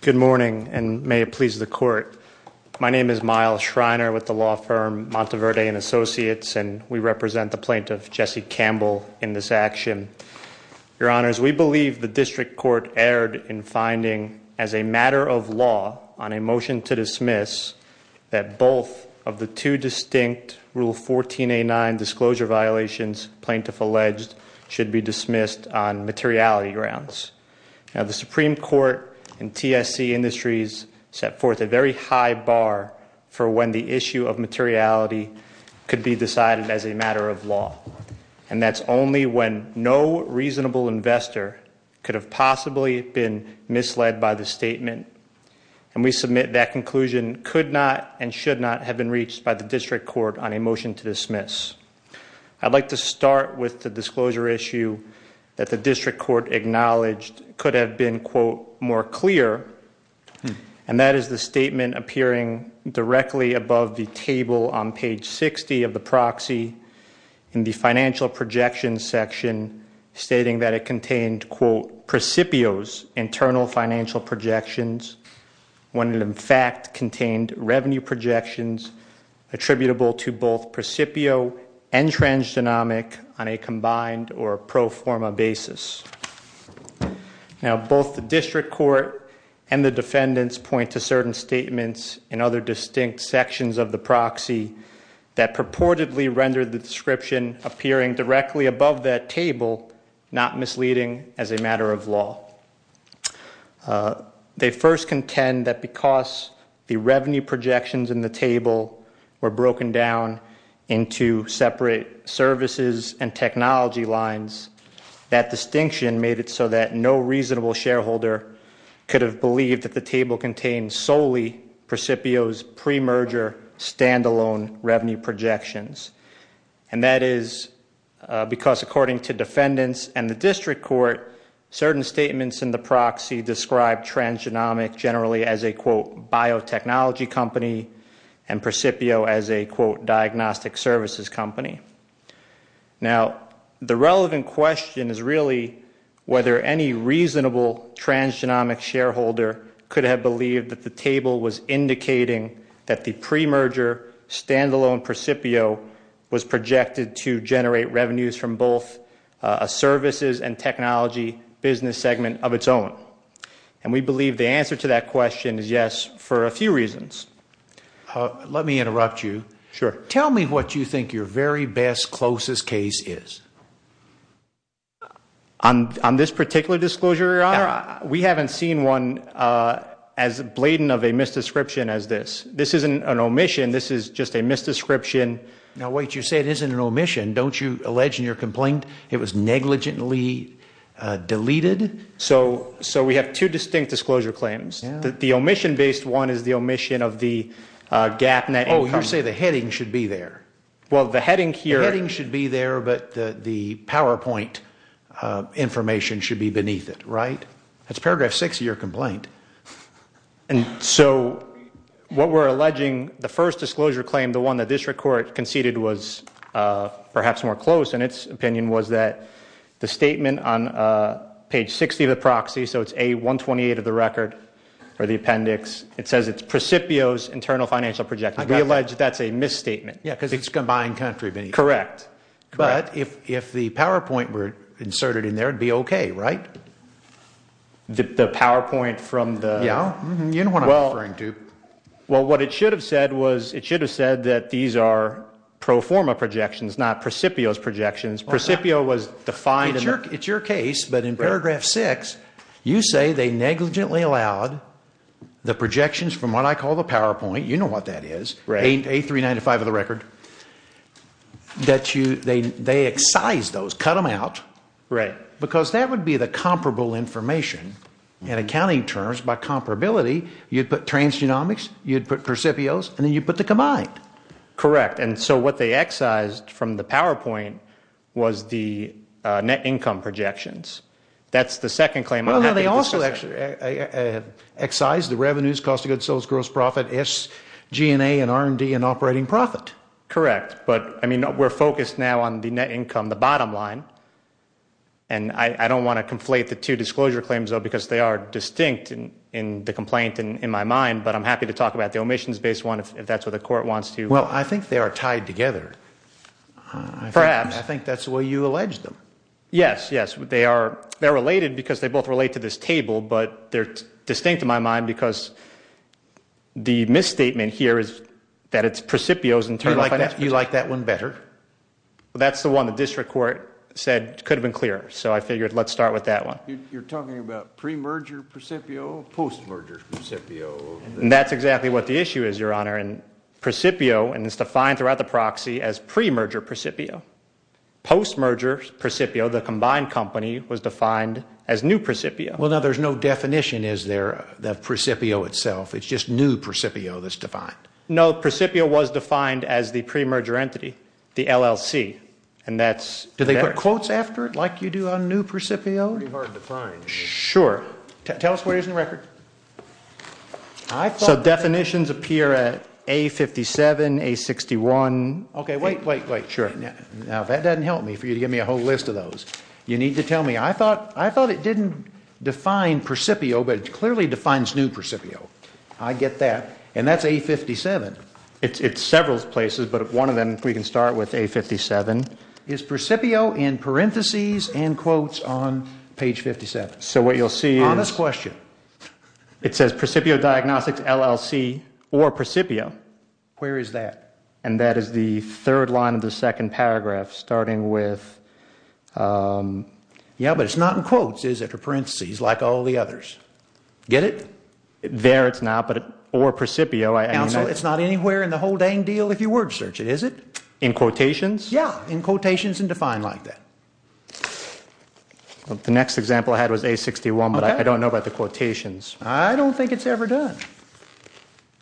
Good morning, and may it please the court. My name is Myles Schreiner with the law firm Monteverde & Associates, and we represent the plaintiff, Jesse Campbell, in this action. Your Honors, we believe the district court erred in finding, as a matter of law, on a motion to dismiss, that both of the two distinct Rule 14A9 disclosure violations plaintiff alleged should be dismissed on materiality grounds. Now, the Supreme Court and TSC Industries set forth a very high bar for when the issue of materiality could be decided as a matter of law, and that's only when no reasonable investor could have possibly been misled by the statement. And we submit that conclusion could not and should not have been reached by the district court on a motion to dismiss. I'd like to start with the disclosure issue that the district court acknowledged could have been, quote, more clear, and that is the statement appearing directly above the table on page 60 of the proxy in the financial projection section, stating that it contained, quote, precipios, internal financial projections, when it in fact contained revenue projections attributable to both precipio and transgenomic on a combined or pro forma basis. Now, both the district court and the defendants point to certain statements in other distinct sections of the proxy that purportedly rendered the description appearing directly above that table not misleading as a matter of law. They first contend that because the revenue projections in the table were broken down into separate services and technology lines, that distinction made it so that no reasonable shareholder could have believed that the table contained solely precipio's premerger standalone revenue projections. And that is because according to defendants and the district court, certain statements in the proxy described transgenomic generally as a, quote, biotechnology company and precipio as a, quote, diagnostic services company. Now, the relevant question is really whether any reasonable transgenomic shareholder could have believed that the table was indicating that the premerger standalone precipio was projected to generate revenues from both a services and technology business segment of its own. And we believe the answer to that question is yes for a few reasons. Let me interrupt you. Sure. Tell me what you think your very best, closest case is. On this particular disclosure, Your Honor, we haven't seen one as blatant of a misdescription as this. This isn't an omission. This is just a misdescription. Now, wait. You say it isn't an omission. Don't you allege in your complaint it was negligently deleted? So we have two distinct disclosure claims. The omission-based one is the omission of the gap net income. Oh, you say the heading should be there. Well, the heading here- The heading should be there, but the PowerPoint information should be beneath it, right? That's paragraph six of your complaint. And so what we're alleging, the first disclosure claim, the one that this court conceded was perhaps more close in its opinion, was that the statement on page 60 of the proxy, so it's A128 of the record or the appendix, it says it's precipio's internal financial project. We allege that's a misstatement. Yeah, because it's combined country. Correct. But if the PowerPoint were inserted in there, it'd be okay, right? The PowerPoint from the- Yeah, you know what I'm referring to. Well, what it should have said was it should have said that these are pro forma projections, not precipio's projections. Precipio was defined- It's your case, but in paragraph six, you say they negligently allowed the projections from what I call the PowerPoint, you know what that is, A395 of the record, that they excised those, cut them out. Right. Because that would be the comparable information, and accounting terms by comparability, you'd put transgenomics, you'd put precipio's, and then you'd put the combined. Correct. And so what they excised from the PowerPoint was the net income projections. That's the second claim- Well, no, they also actually excised the revenues, cost of goods, sales, gross profit, SG&A, and R&D, and operating profit. Correct. But, I mean, we're focused now on the net income, the bottom line. And I don't want to conflate the two disclosure claims, though, because they are distinct in the complaint in my mind, but I'm happy to talk about the omissions-based one if that's what the court wants to- Well, I think they are tied together. Perhaps. I think that's the way you allege them. Yes, yes. They're related because they both relate to this table, but they're distinct in my mind because the misstatement here is that it's precipio's in terms of- You like that one better? That's the one the district court said could have been clearer, so I figured let's start with that one. You're talking about pre-merger precipio, post-merger precipio? That's exactly what the issue is, Your Honor. And precipio is defined throughout the proxy as pre-merger precipio. Post-merger precipio, the combined company, was defined as new precipio. Well, now, there's no definition, is there, of precipio itself? It's just new precipio that's defined. No, precipio was defined as the pre-merger entity. The LLC, and that's- Do they put quotes after it like you do on new precipio? Pretty hard to find. Sure. Tell us where he is in the record. So definitions appear at A57, A61- Okay, wait, wait, wait. Sure. Now, that doesn't help me for you to give me a whole list of those. You need to tell me. I thought it didn't define precipio, but it clearly defines new precipio. I get that. And that's A57. It's several places, but one of them, we can start with A57. Is precipio in parentheses and quotes on page 57? So what you'll see is- Honest question. It says, Precipio Diagnostics, LLC, or Precipio. Where is that? And that is the third line of the second paragraph, starting with- Yeah, but it's not in quotes, is it, or parentheses, like all the others? Get it? There it's not, but or precipio- Counsel, it's not anywhere in the whole dang deal if you word search it, is it? In quotations? Yeah, in quotations and defined like that. The next example I had was A61, but I don't know about the quotations. I don't think it's ever done.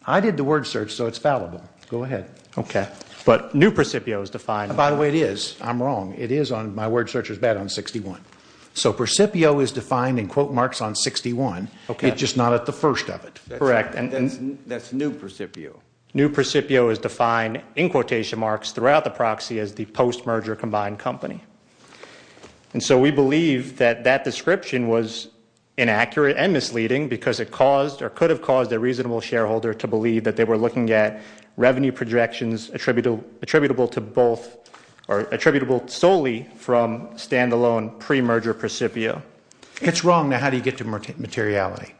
I did the word search, so it's fallible. Go ahead. Okay. But new precipio is defined- By the way, it is. I'm wrong. It is on my word search was bad on 61. So precipio is defined in quote marks on 61. Okay. It's just not at the first of it. Correct. That's new precipio. New precipio is defined in quotation marks throughout the proxy as the post-merger combined company. And so we believe that that description was inaccurate and misleading because it caused or could have caused a reasonable shareholder to believe that they were looking at revenue projections attributable to both or attributable solely from standalone pre-merger precipio. It's wrong. Now, how do you get to materiality?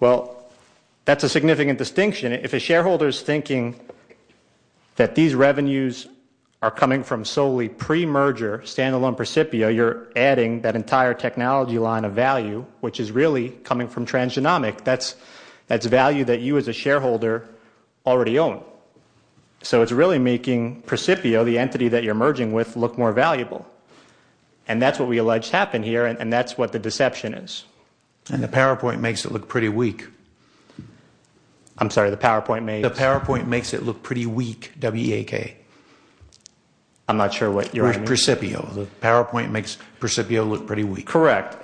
Well, that's a significant distinction. If a shareholder is thinking that these revenues are coming from solely pre-merger standalone precipio, you're adding that entire technology line of value, which is really coming from transgenomic. That's value that you as a shareholder already own. So it's really making precipio, the entity that you're merging with, look more valuable. And that's what we allege happened here, and that's what the deception is. And the PowerPoint makes it look pretty weak. I'm sorry, the PowerPoint makes it look pretty weak, W-E-A-K. I'm not sure what you're arguing. With precipio. The PowerPoint makes precipio look pretty weak. Correct.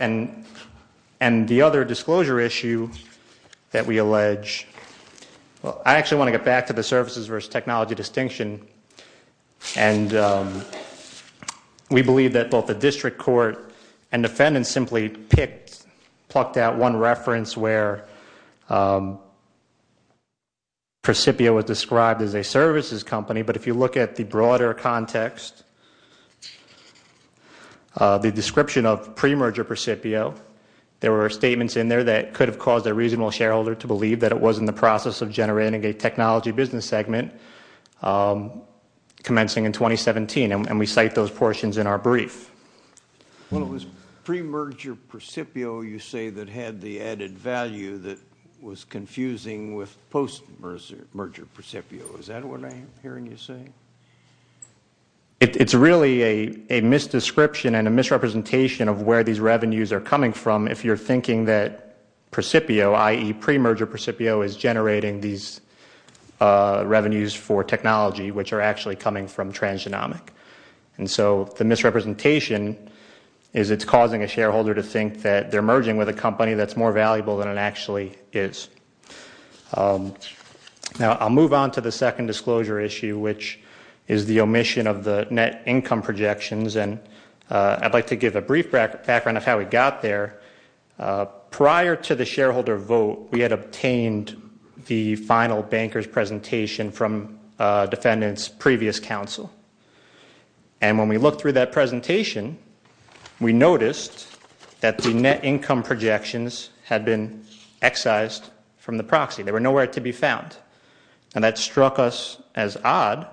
And the other disclosure issue that we allege, I actually want to get back to the services versus technology distinction. And we believe that both the district court and defendants simply plucked out one reference where precipio was described as a services company. But if you look at the broader context, the description of pre-merger precipio, there were statements in there that could have caused a reasonable shareholder to believe that it was in the process of generating a technology business segment commencing in 2017. And we cite those portions in our brief. Well, it was pre-merger precipio, you say, that had the added value that was confusing with post-merger precipio. Is that what I'm hearing you say? It's really a misdescription and a misrepresentation of where these revenues are coming from if you're thinking that precipio, i.e., pre-merger precipio, is generating these revenues for technology, which are actually coming from transgenomic. And so the misrepresentation is it's causing a shareholder to think that they're merging with a company that's more valuable than it actually is. Now, I'll move on to the second disclosure issue, which is the omission of the net income projections. And I'd like to give a brief background of how we got there. Prior to the shareholder vote, we had obtained the final banker's presentation from defendants' previous counsel. And when we looked through that presentation, we noticed that the net income projections had been excised from the proxy. They were nowhere to be found. And that struck us as odd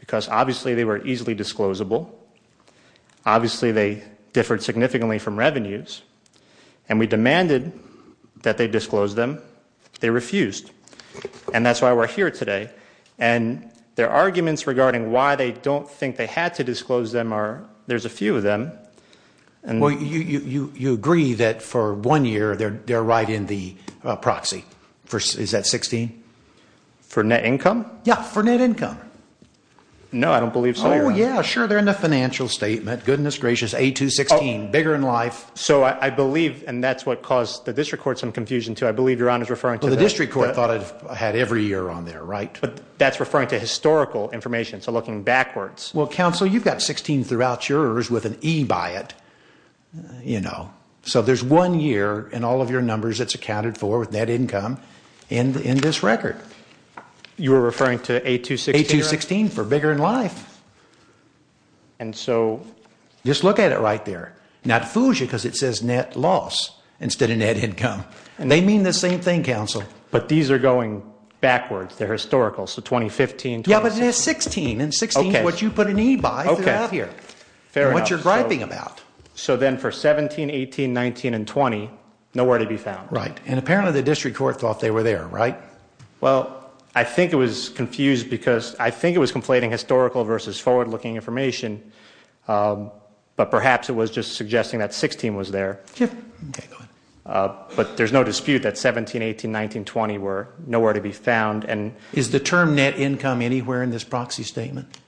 because, obviously, they were easily disclosable. Obviously, they differed significantly from revenues. And we demanded that they disclose them. They refused. And that's why we're here today. And their arguments regarding why they don't think they had to disclose them are there's a few of them. Well, you agree that for one year they're right in the proxy. Is that 16? For net income? Yeah, for net income. No, I don't believe so. Oh, yeah, sure. They're in the financial statement. Goodness gracious. A216. Bigger in life. So I believe, and that's what caused the district court some confusion, too. I believe Your Honor is referring to that. Well, the district court thought it had every year on there, right? But that's referring to historical information. So looking backwards. Well, counsel, you've got 16 throughout yours with an E by it. So there's one year in all of your numbers that's accounted for with net income in this record. You're referring to A216? A216 for bigger in life. And so? Just look at it right there. Now, it fools you because it says net loss instead of net income. They mean the same thing, counsel. But these are going backwards. They're historical. So 2015, 2016. Yeah, but it has 16. And 16 is what you put an E by throughout here. Fair enough. And what you're griping about. So then for 17, 18, 19, and 20, nowhere to be found. Right. And apparently the district court thought they were there, right? Well, I think it was confused because I think it was conflating historical versus forward-looking information. But perhaps it was just suggesting that 16 was there. Okay, go ahead. But there's no dispute that 17, 18, 19, 20 were nowhere to be found. Is the term net income anywhere in this proxy statement?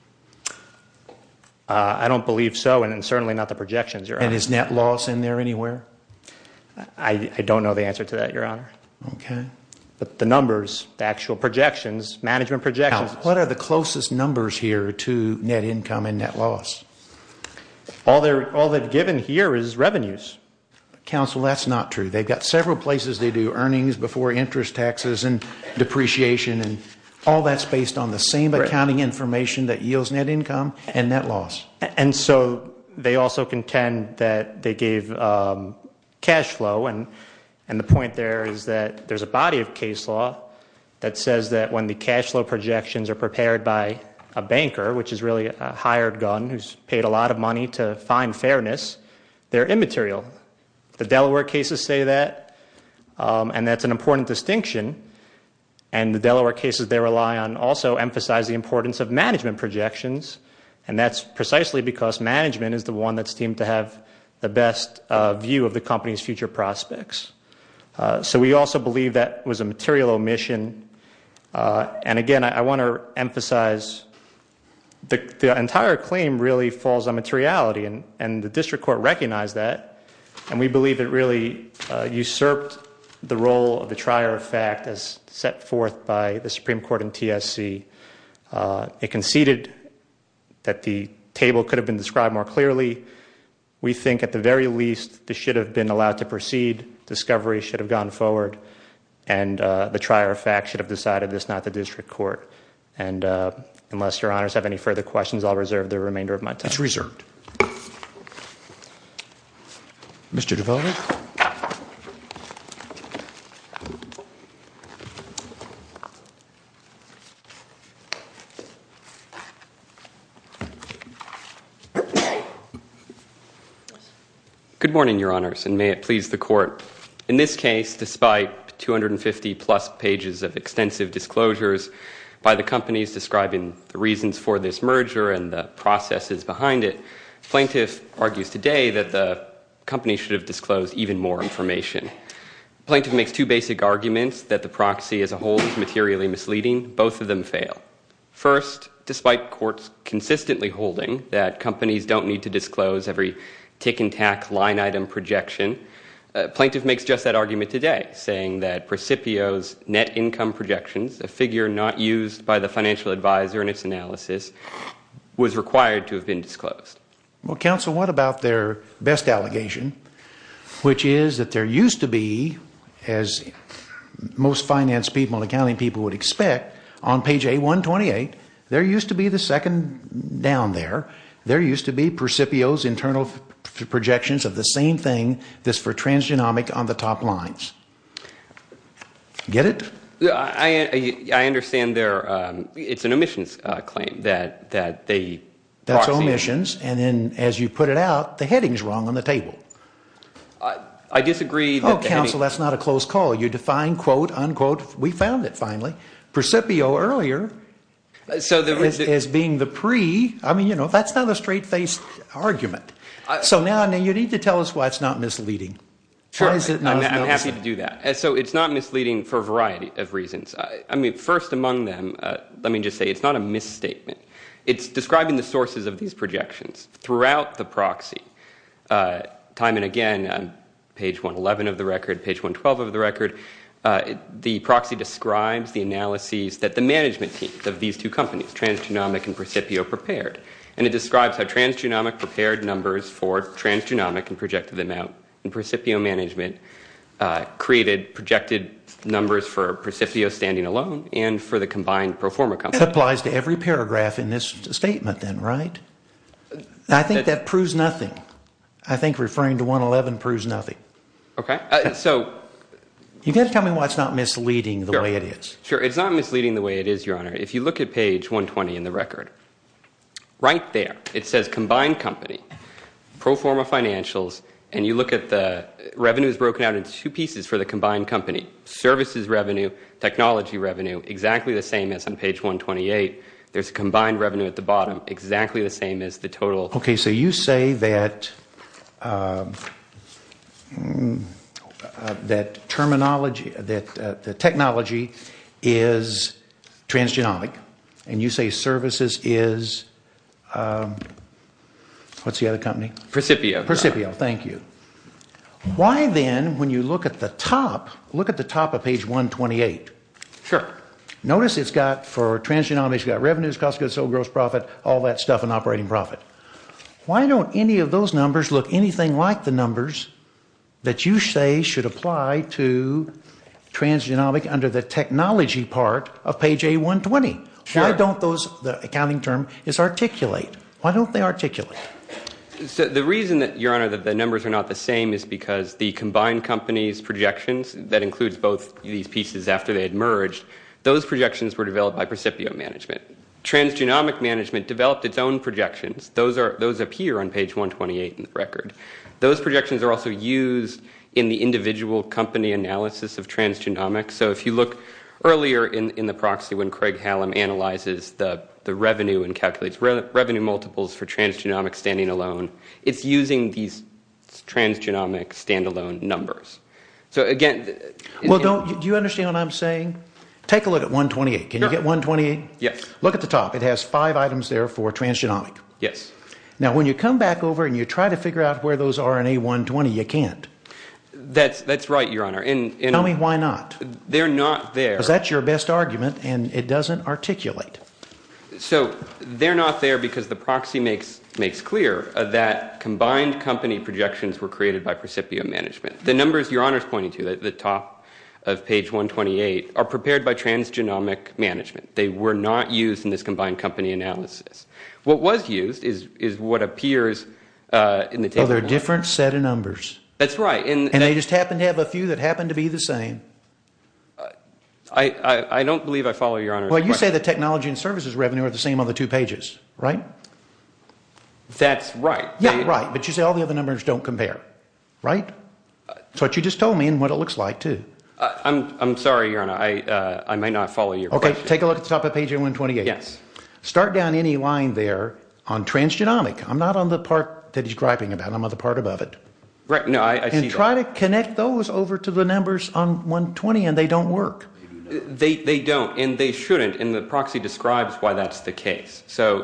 I don't believe so, and certainly not the projections, Your Honor. And is net loss in there anywhere? I don't know the answer to that, Your Honor. Okay. But the numbers, the actual projections, management projections. What are the closest numbers here to net income and net loss? All they've given here is revenues. Counsel, that's not true. They've got several places they do earnings before interest taxes and depreciation. And all that's based on the same accounting information that yields net income and net loss. And so they also contend that they gave cash flow. And the point there is that there's a body of case law that says that when the cash flow projections are prepared by a banker, which is really a hired gun who's paid a lot of money to find fairness, they're immaterial. The Delaware cases say that, and that's an important distinction. And the Delaware cases they rely on also emphasize the importance of management projections, and that's precisely because management is the one that's deemed to have the best view of the company's future prospects. So we also believe that was a material omission. And, again, I want to emphasize the entire claim really falls on materiality, and the district court recognized that, and we believe it really usurped the role of the trier of fact as set forth by the Supreme Court in TSC. It conceded that the table could have been described more clearly. We think at the very least this should have been allowed to proceed, discovery should have gone forward, and the trier of fact should have decided this, not the district court. And unless your honors have any further questions, I'll reserve the remainder of my time. That's reserved. Mr. DeVos. Good morning, your honors, and may it please the court. In this case, despite 250-plus pages of extensive disclosures by the companies describing the reasons for this merger and the processes behind it, plaintiff argues today that the company should have disclosed even more information. Plaintiff makes two basic arguments that the proxy as a whole is materially misleading. Both of them fail. First, despite courts consistently holding that companies don't need to disclose every tick and tack line item projection, plaintiff makes just that argument today, saying that Precipio's net income projections, a figure not used by the financial advisor in its analysis, was required to have been disclosed. Well, counsel, what about their best allegation, which is that there used to be, as most finance people and accounting people would expect, on page A128, there used to be the second down there, there used to be Precipio's internal projections of the same thing that's for transgenomic on the top lines. Get it? I understand it's an omissions claim that they proxy. That's omissions. And then as you put it out, the heading's wrong on the table. I disagree. Oh, counsel, that's not a close call. You define, quote, unquote, we found it finally. Precipio earlier is being the pre. I mean, you know, that's not a straight-faced argument. So now you need to tell us why it's not misleading. I'm happy to do that. So it's not misleading for a variety of reasons. I mean, first among them, let me just say it's not a misstatement. It's describing the sources of these projections throughout the proxy. Time and again, page 111 of the record, page 112 of the record, the proxy describes the analyses that the management team of these two companies, transgenomic and Precipio, prepared. And it describes how transgenomic prepared numbers for transgenomic and projected them out. And Precipio management created projected numbers for Precipio standing alone and for the combined pro forma company. That applies to every paragraph in this statement then, right? I think that proves nothing. I think referring to 111 proves nothing. Okay. So you've got to tell me why it's not misleading the way it is. Sure. It's not misleading the way it is, Your Honor. If you look at page 120 in the record, right there it says combined company, pro forma financials, and you look at the revenues broken out into two pieces for the combined company, services revenue, technology revenue, exactly the same as on page 128. There's combined revenue at the bottom, exactly the same as the total. Okay. So you say that technology is transgenomic and you say services is what's the other company? Precipio. Precipio. Thank you. Why then when you look at the top, look at the top of page 128. Sure. Notice it's got for transgenomics, you've got revenues, cost of goods sold, gross profit, all that stuff, and operating profit. Why don't any of those numbers look anything like the numbers that you say should apply to transgenomic under the technology part of page A120? Sure. Why don't those, the accounting term is articulate. Why don't they articulate? The reason, Your Honor, that the numbers are not the same is because the combined company's projections, that includes both these pieces after they had merged, those projections were developed by Precipio management. Transgenomic management developed its own projections. Those appear on page 128 in the record. Those projections are also used in the individual company analysis of transgenomics. So if you look earlier in the proxy when Craig Hallam analyzes the revenue and calculates revenue multiples for transgenomics standing alone, it's using these transgenomic standalone numbers. So again, Well, do you understand what I'm saying? Take a look at 128. Can you get 128? Yes. Look at the top. It has five items there for transgenomic. Yes. Now, when you come back over and you try to figure out where those are in A120, you can't. That's right, Your Honor. Tell me why not. They're not there. Because that's your best argument, and it doesn't articulate. So they're not there because the proxy makes clear that combined company projections were created by Precipio management. The numbers Your Honor is pointing to at the top of page 128 are prepared by transgenomic management. They were not used in this combined company analysis. What was used is what appears in the table. Well, they're a different set of numbers. That's right. And they just happen to have a few that happen to be the same. I don't believe I follow Your Honor's question. Well, you say the technology and services revenue are the same on the two pages, right? That's right. Yeah, right. But you say all the other numbers don't compare, right? That's what you just told me and what it looks like, too. I'm sorry, Your Honor. I may not follow your question. Okay. Take a look at the top of page 128. Yes. Start down any line there on transgenomic. I'm not on the part that he's griping about. I'm on the part above it. Right. No, I see that. And try to connect those over to the numbers on 120, and they don't work. They don't, and they shouldn't, and the proxy describes why that's the case. So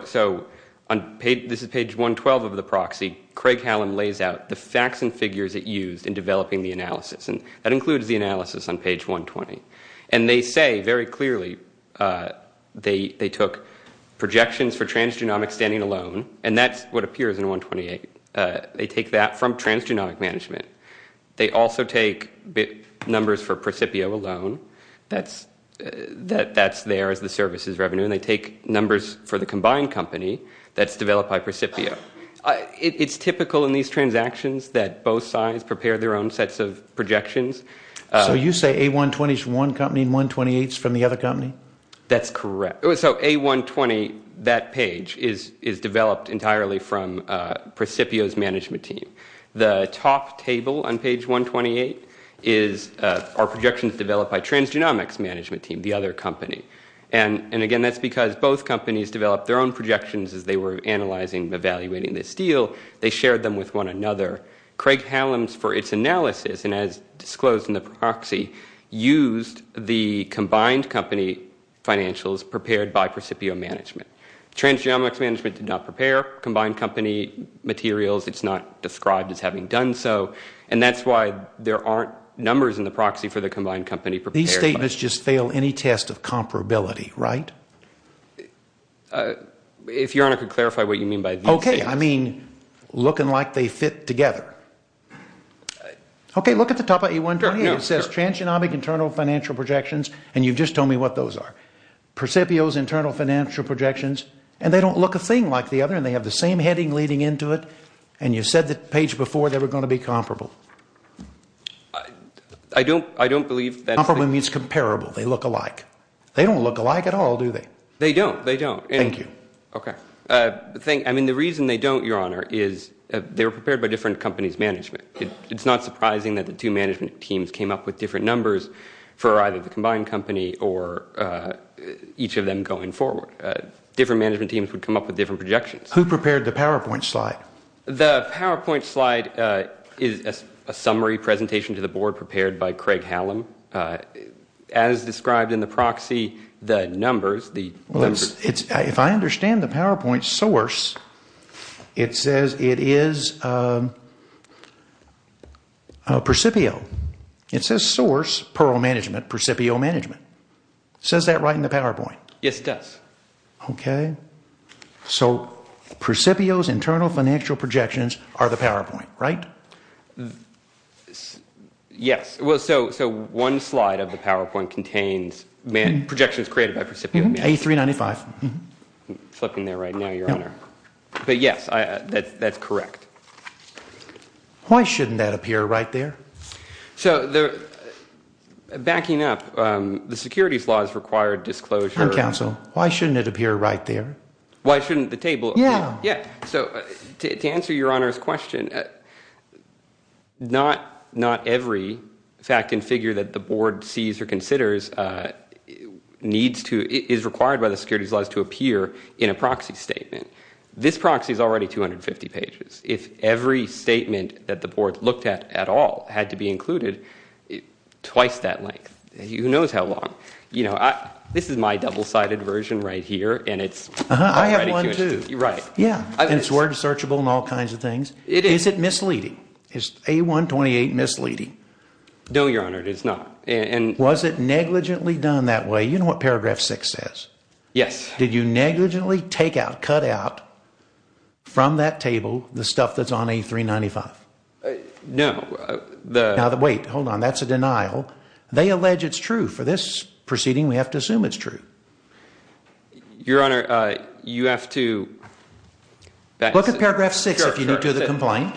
this is page 112 of the proxy. Craig Hallam lays out the facts and figures it used in developing the analysis, and that includes the analysis on page 120. And they say very clearly they took projections for transgenomic standing alone, and that's what appears in 128. They take that from transgenomic management. They also take numbers for Precipio alone. That's there as the services revenue, and they take numbers for the combined company that's developed by Precipio. It's typical in these transactions that both sides prepare their own sets of projections. So you say A120 is from one company and 128 is from the other company? That's correct. So A120, that page, is developed entirely from Precipio's management team. The top table on page 128 is our projections developed by transgenomics management team, the other company. And, again, that's because both companies developed their own projections as they were analyzing and evaluating this deal. They shared them with one another. Craig Hallams, for its analysis, and as disclosed in the proxy, used the combined company financials prepared by Precipio management. Transgenomics management did not prepare combined company materials. It's not described as having done so, and that's why there aren't numbers in the proxy for the combined company prepared. These statements just fail any test of comparability, right? If Your Honor could clarify what you mean by these statements. Okay, I mean looking like they fit together. Okay, look at the top of A128. It says transgenomic internal financial projections, and you've just told me what those are. Precipio's internal financial projections, and they don't look a thing like the other, and they have the same heading leading into it, and you said the page before they were going to be comparable. I don't believe that. Comparable means comparable. They look alike. They don't look alike at all, do they? They don't. They don't. Thank you. Okay. I mean the reason they don't, Your Honor, is they were prepared by different companies' management. It's not surprising that the two management teams came up with different numbers for either the combined company or each of them going forward. Different management teams would come up with different projections. Who prepared the PowerPoint slide? The PowerPoint slide is a summary presentation to the board prepared by Craig Hallam. As described in the proxy, the numbers, the numbers. If I understand the PowerPoint source, it says it is Precipio. It says source, Perl Management, Precipio Management. It says that right in the PowerPoint? Yes, it does. Okay. So Precipio's internal financial projections are the PowerPoint, right? So one slide of the PowerPoint contains projections created by Precipio. A395. Flipping there right now, Your Honor. But yes, that's correct. Why shouldn't that appear right there? So backing up, the securities laws require disclosure. I'm counsel. Why shouldn't it appear right there? Why shouldn't the table? Yeah. Yeah. So to answer Your Honor's question, not every fact and figure that the board sees or considers is required by the securities laws to appear in a proxy statement. This proxy is already 250 pages. If every statement that the board looked at at all had to be included, twice that length, who knows how long. This is my double-sided version right here, and it's already too much. I have one, too. Right. Yeah, and it's word searchable and all kinds of things. Is it misleading? Is A128 misleading? No, Your Honor, it is not. Was it negligently done that way? You know what Paragraph 6 says. Yes. Did you negligently take out, cut out, from that table, the stuff that's on A395? No. Now, wait. Hold on. That's a denial. They allege it's true. For this proceeding, we have to assume it's true. Your Honor, you have to. Look at Paragraph 6 if you do the complaint,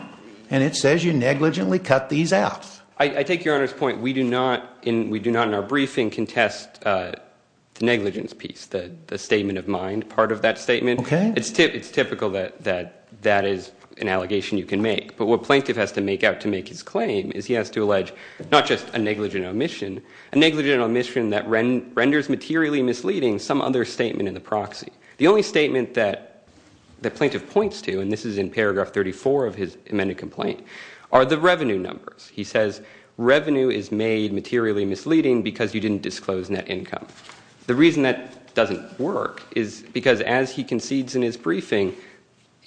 and it says you negligently cut these out. I take Your Honor's point. We do not in our briefing contest the negligence piece, the statement of mind part of that statement. Okay. It's typical that that is an allegation you can make. But what Plaintiff has to make out to make his claim is he has to allege not just a negligent omission, a negligent omission that renders materially misleading some other statement in the proxy. The only statement that Plaintiff points to, and this is in Paragraph 34 of his amended complaint, are the revenue numbers. He says revenue is made materially misleading because you didn't disclose net income. The reason that doesn't work is because as he concedes in his briefing,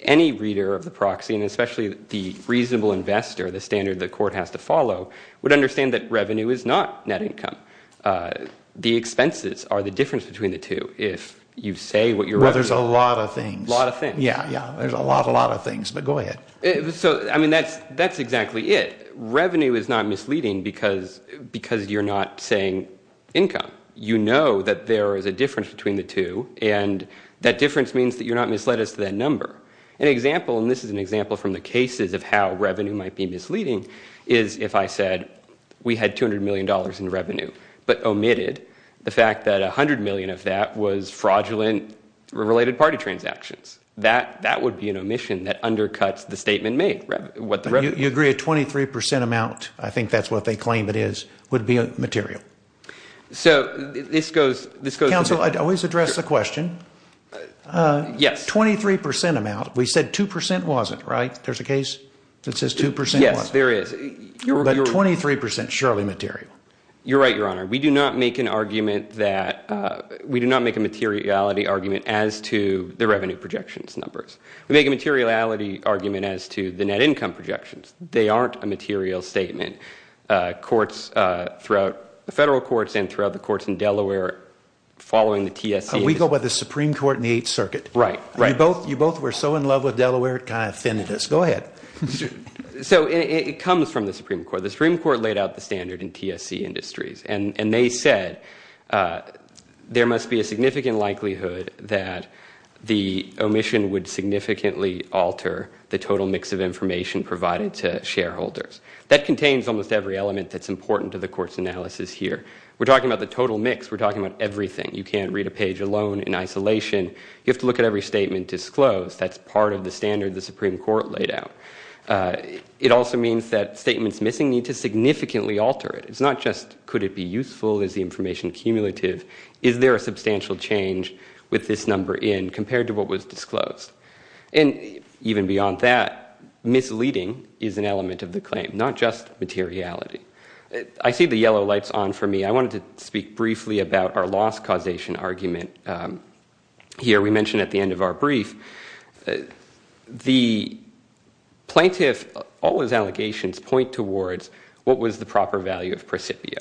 any reader of the proxy, and especially the reasonable investor, the standard the court has to follow, would understand that revenue is not net income. The expenses are the difference between the two. If you say what your revenue is. Well, there's a lot of things. A lot of things. Yeah, yeah. There's a lot, a lot of things, but go ahead. So, I mean, that's exactly it. Revenue is not misleading because you're not saying income. You know that there is a difference between the two, and that difference means that you're not misled as to that number. An example, and this is an example from the cases of how revenue might be misleading, is if I said we had $200 million in revenue, but omitted the fact that $100 million of that was fraudulent related party transactions. That would be an omission that undercuts the statement made. You agree a 23% amount, I think that's what they claim it is, would be material. So, this goes to. Counsel, I'd always address the question. Yes. 23% amount. We said 2% wasn't, right? There's a case that says 2% wasn't. Yes, there is. But 23% is surely material. You're right, Your Honor. We do not make an argument that, we do not make a materiality argument as to the revenue projections numbers. We make a materiality argument as to the net income projections. They aren't a material statement. Courts throughout, federal courts and throughout the courts in Delaware, following the TSC. We go by the Supreme Court in the Eighth Circuit. Right, right. You both were so in love with Delaware, it kind of offended us. Go ahead. So, it comes from the Supreme Court. The Supreme Court laid out the standard in TSC industries, and they said there must be a significant likelihood that the omission would significantly alter the total mix of information provided to shareholders. That contains almost every element that's important to the court's analysis here. We're talking about the total mix. We're talking about everything. You can't read a page alone in isolation. You have to look at every statement disclosed. That's part of the standard the Supreme Court laid out. It also means that statements missing need to significantly alter it. It's not just, could it be useful? Is the information cumulative? Is there a substantial change with this number in compared to what was disclosed? And even beyond that, misleading is an element of the claim, not just materiality. I see the yellow lights on for me. I wanted to speak briefly about our loss causation argument here. We mentioned at the end of our brief the plaintiff, all his allegations point towards what was the proper value of Prescipio.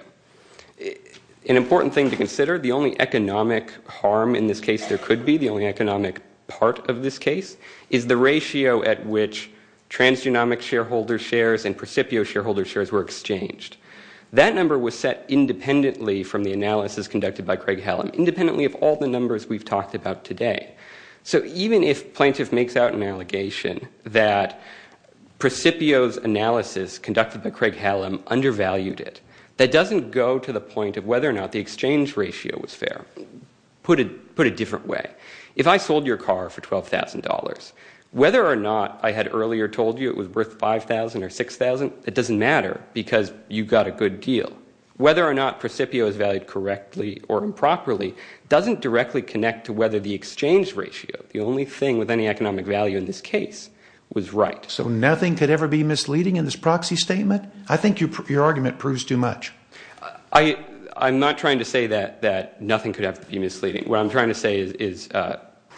An important thing to consider, the only economic harm in this case there could be, the only economic part of this case, is the ratio at which transgenomic shareholder shares and Prescipio shareholder shares were exchanged. That number was set independently from the analysis conducted by Craig Hallam, independently of all the numbers we've talked about today. So even if plaintiff makes out an allegation that Prescipio's analysis conducted by Craig Hallam undervalued it, that doesn't go to the point of whether or not the exchange ratio was fair. Put it a different way. If I sold your car for $12,000, whether or not I had earlier told you it was worth $5,000 or $6,000, it doesn't matter because you got a good deal. Whether or not Prescipio is valued correctly or improperly doesn't directly connect to whether the exchange ratio, the only thing with any economic value in this case, was right. So nothing could ever be misleading in this proxy statement? I think your argument proves too much. I'm not trying to say that nothing could ever be misleading. What I'm trying to say is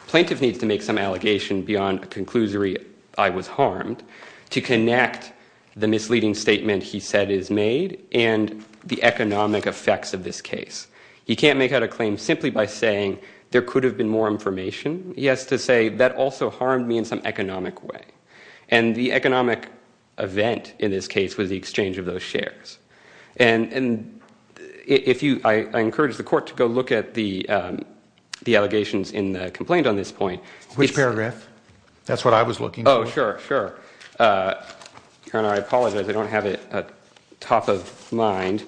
plaintiff needs to make some allegation beyond a conclusory I was harmed to connect the misleading statement he said is made and the economic effects of this case. He can't make out a claim simply by saying there could have been more information. He has to say that also harmed me in some economic way. The economic event in this case was the exchange of those shares. I encourage the court to go look at the allegations in the complaint on this point. Which paragraph? That's what I was looking for. Sure. I apologize. I don't have it top of mind.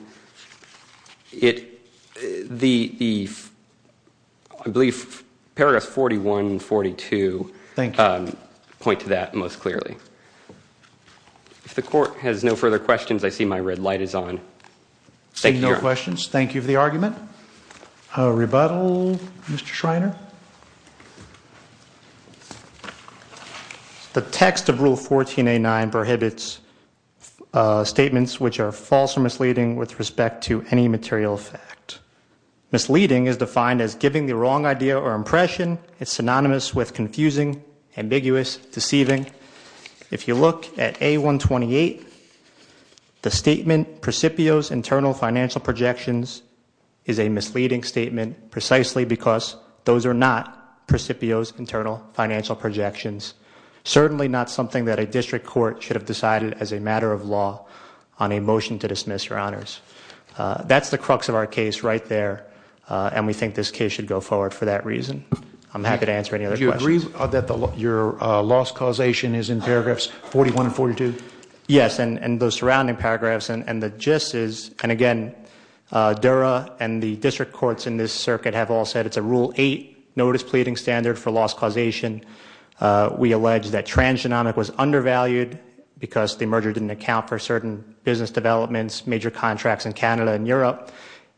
I believe paragraphs 41 and 42... Thank you. ...point to that most clearly. If the court has no further questions, I see my red light is on. Seeing no questions, thank you for the argument. Rebuttal, Mr. Schreiner? The text of Rule 14A9 prohibits statements which are false or misleading with respect to any material fact. Misleading is defined as giving the wrong idea or impression. It's synonymous with confusing, ambiguous, deceiving. If you look at A128, the statement, Precipio's internal financial projections is a misleading statement precisely because those are not Precipio's internal financial projections. Certainly not something that a district court should have decided as a matter of law on a motion to dismiss, Your Honors. That's the crux of our case right there. And we think this case should go forward for that reason. I'm happy to answer any other questions. Do you agree that your loss causation is in paragraphs 41 and 42? Yes, and those surrounding paragraphs. And the gist is, and again, Dura and the district courts in this circuit have all said it's a Rule 8 notice pleading standard for loss causation. We allege that transgenomic was undervalued because the merger didn't account for certain business developments, major contracts in Canada and Europe.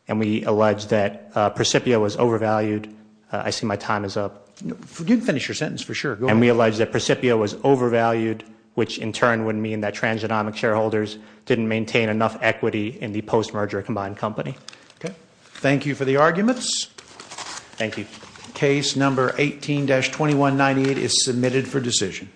And we allege that Precipio was overvalued. I see my time is up. You can finish your sentence for sure. And we allege that Precipio was overvalued, which in turn would mean that transgenomic shareholders didn't maintain enough equity in the post-merger combined company. Thank you for the arguments. Thank you. Case number 18-2198 is submitted for decision.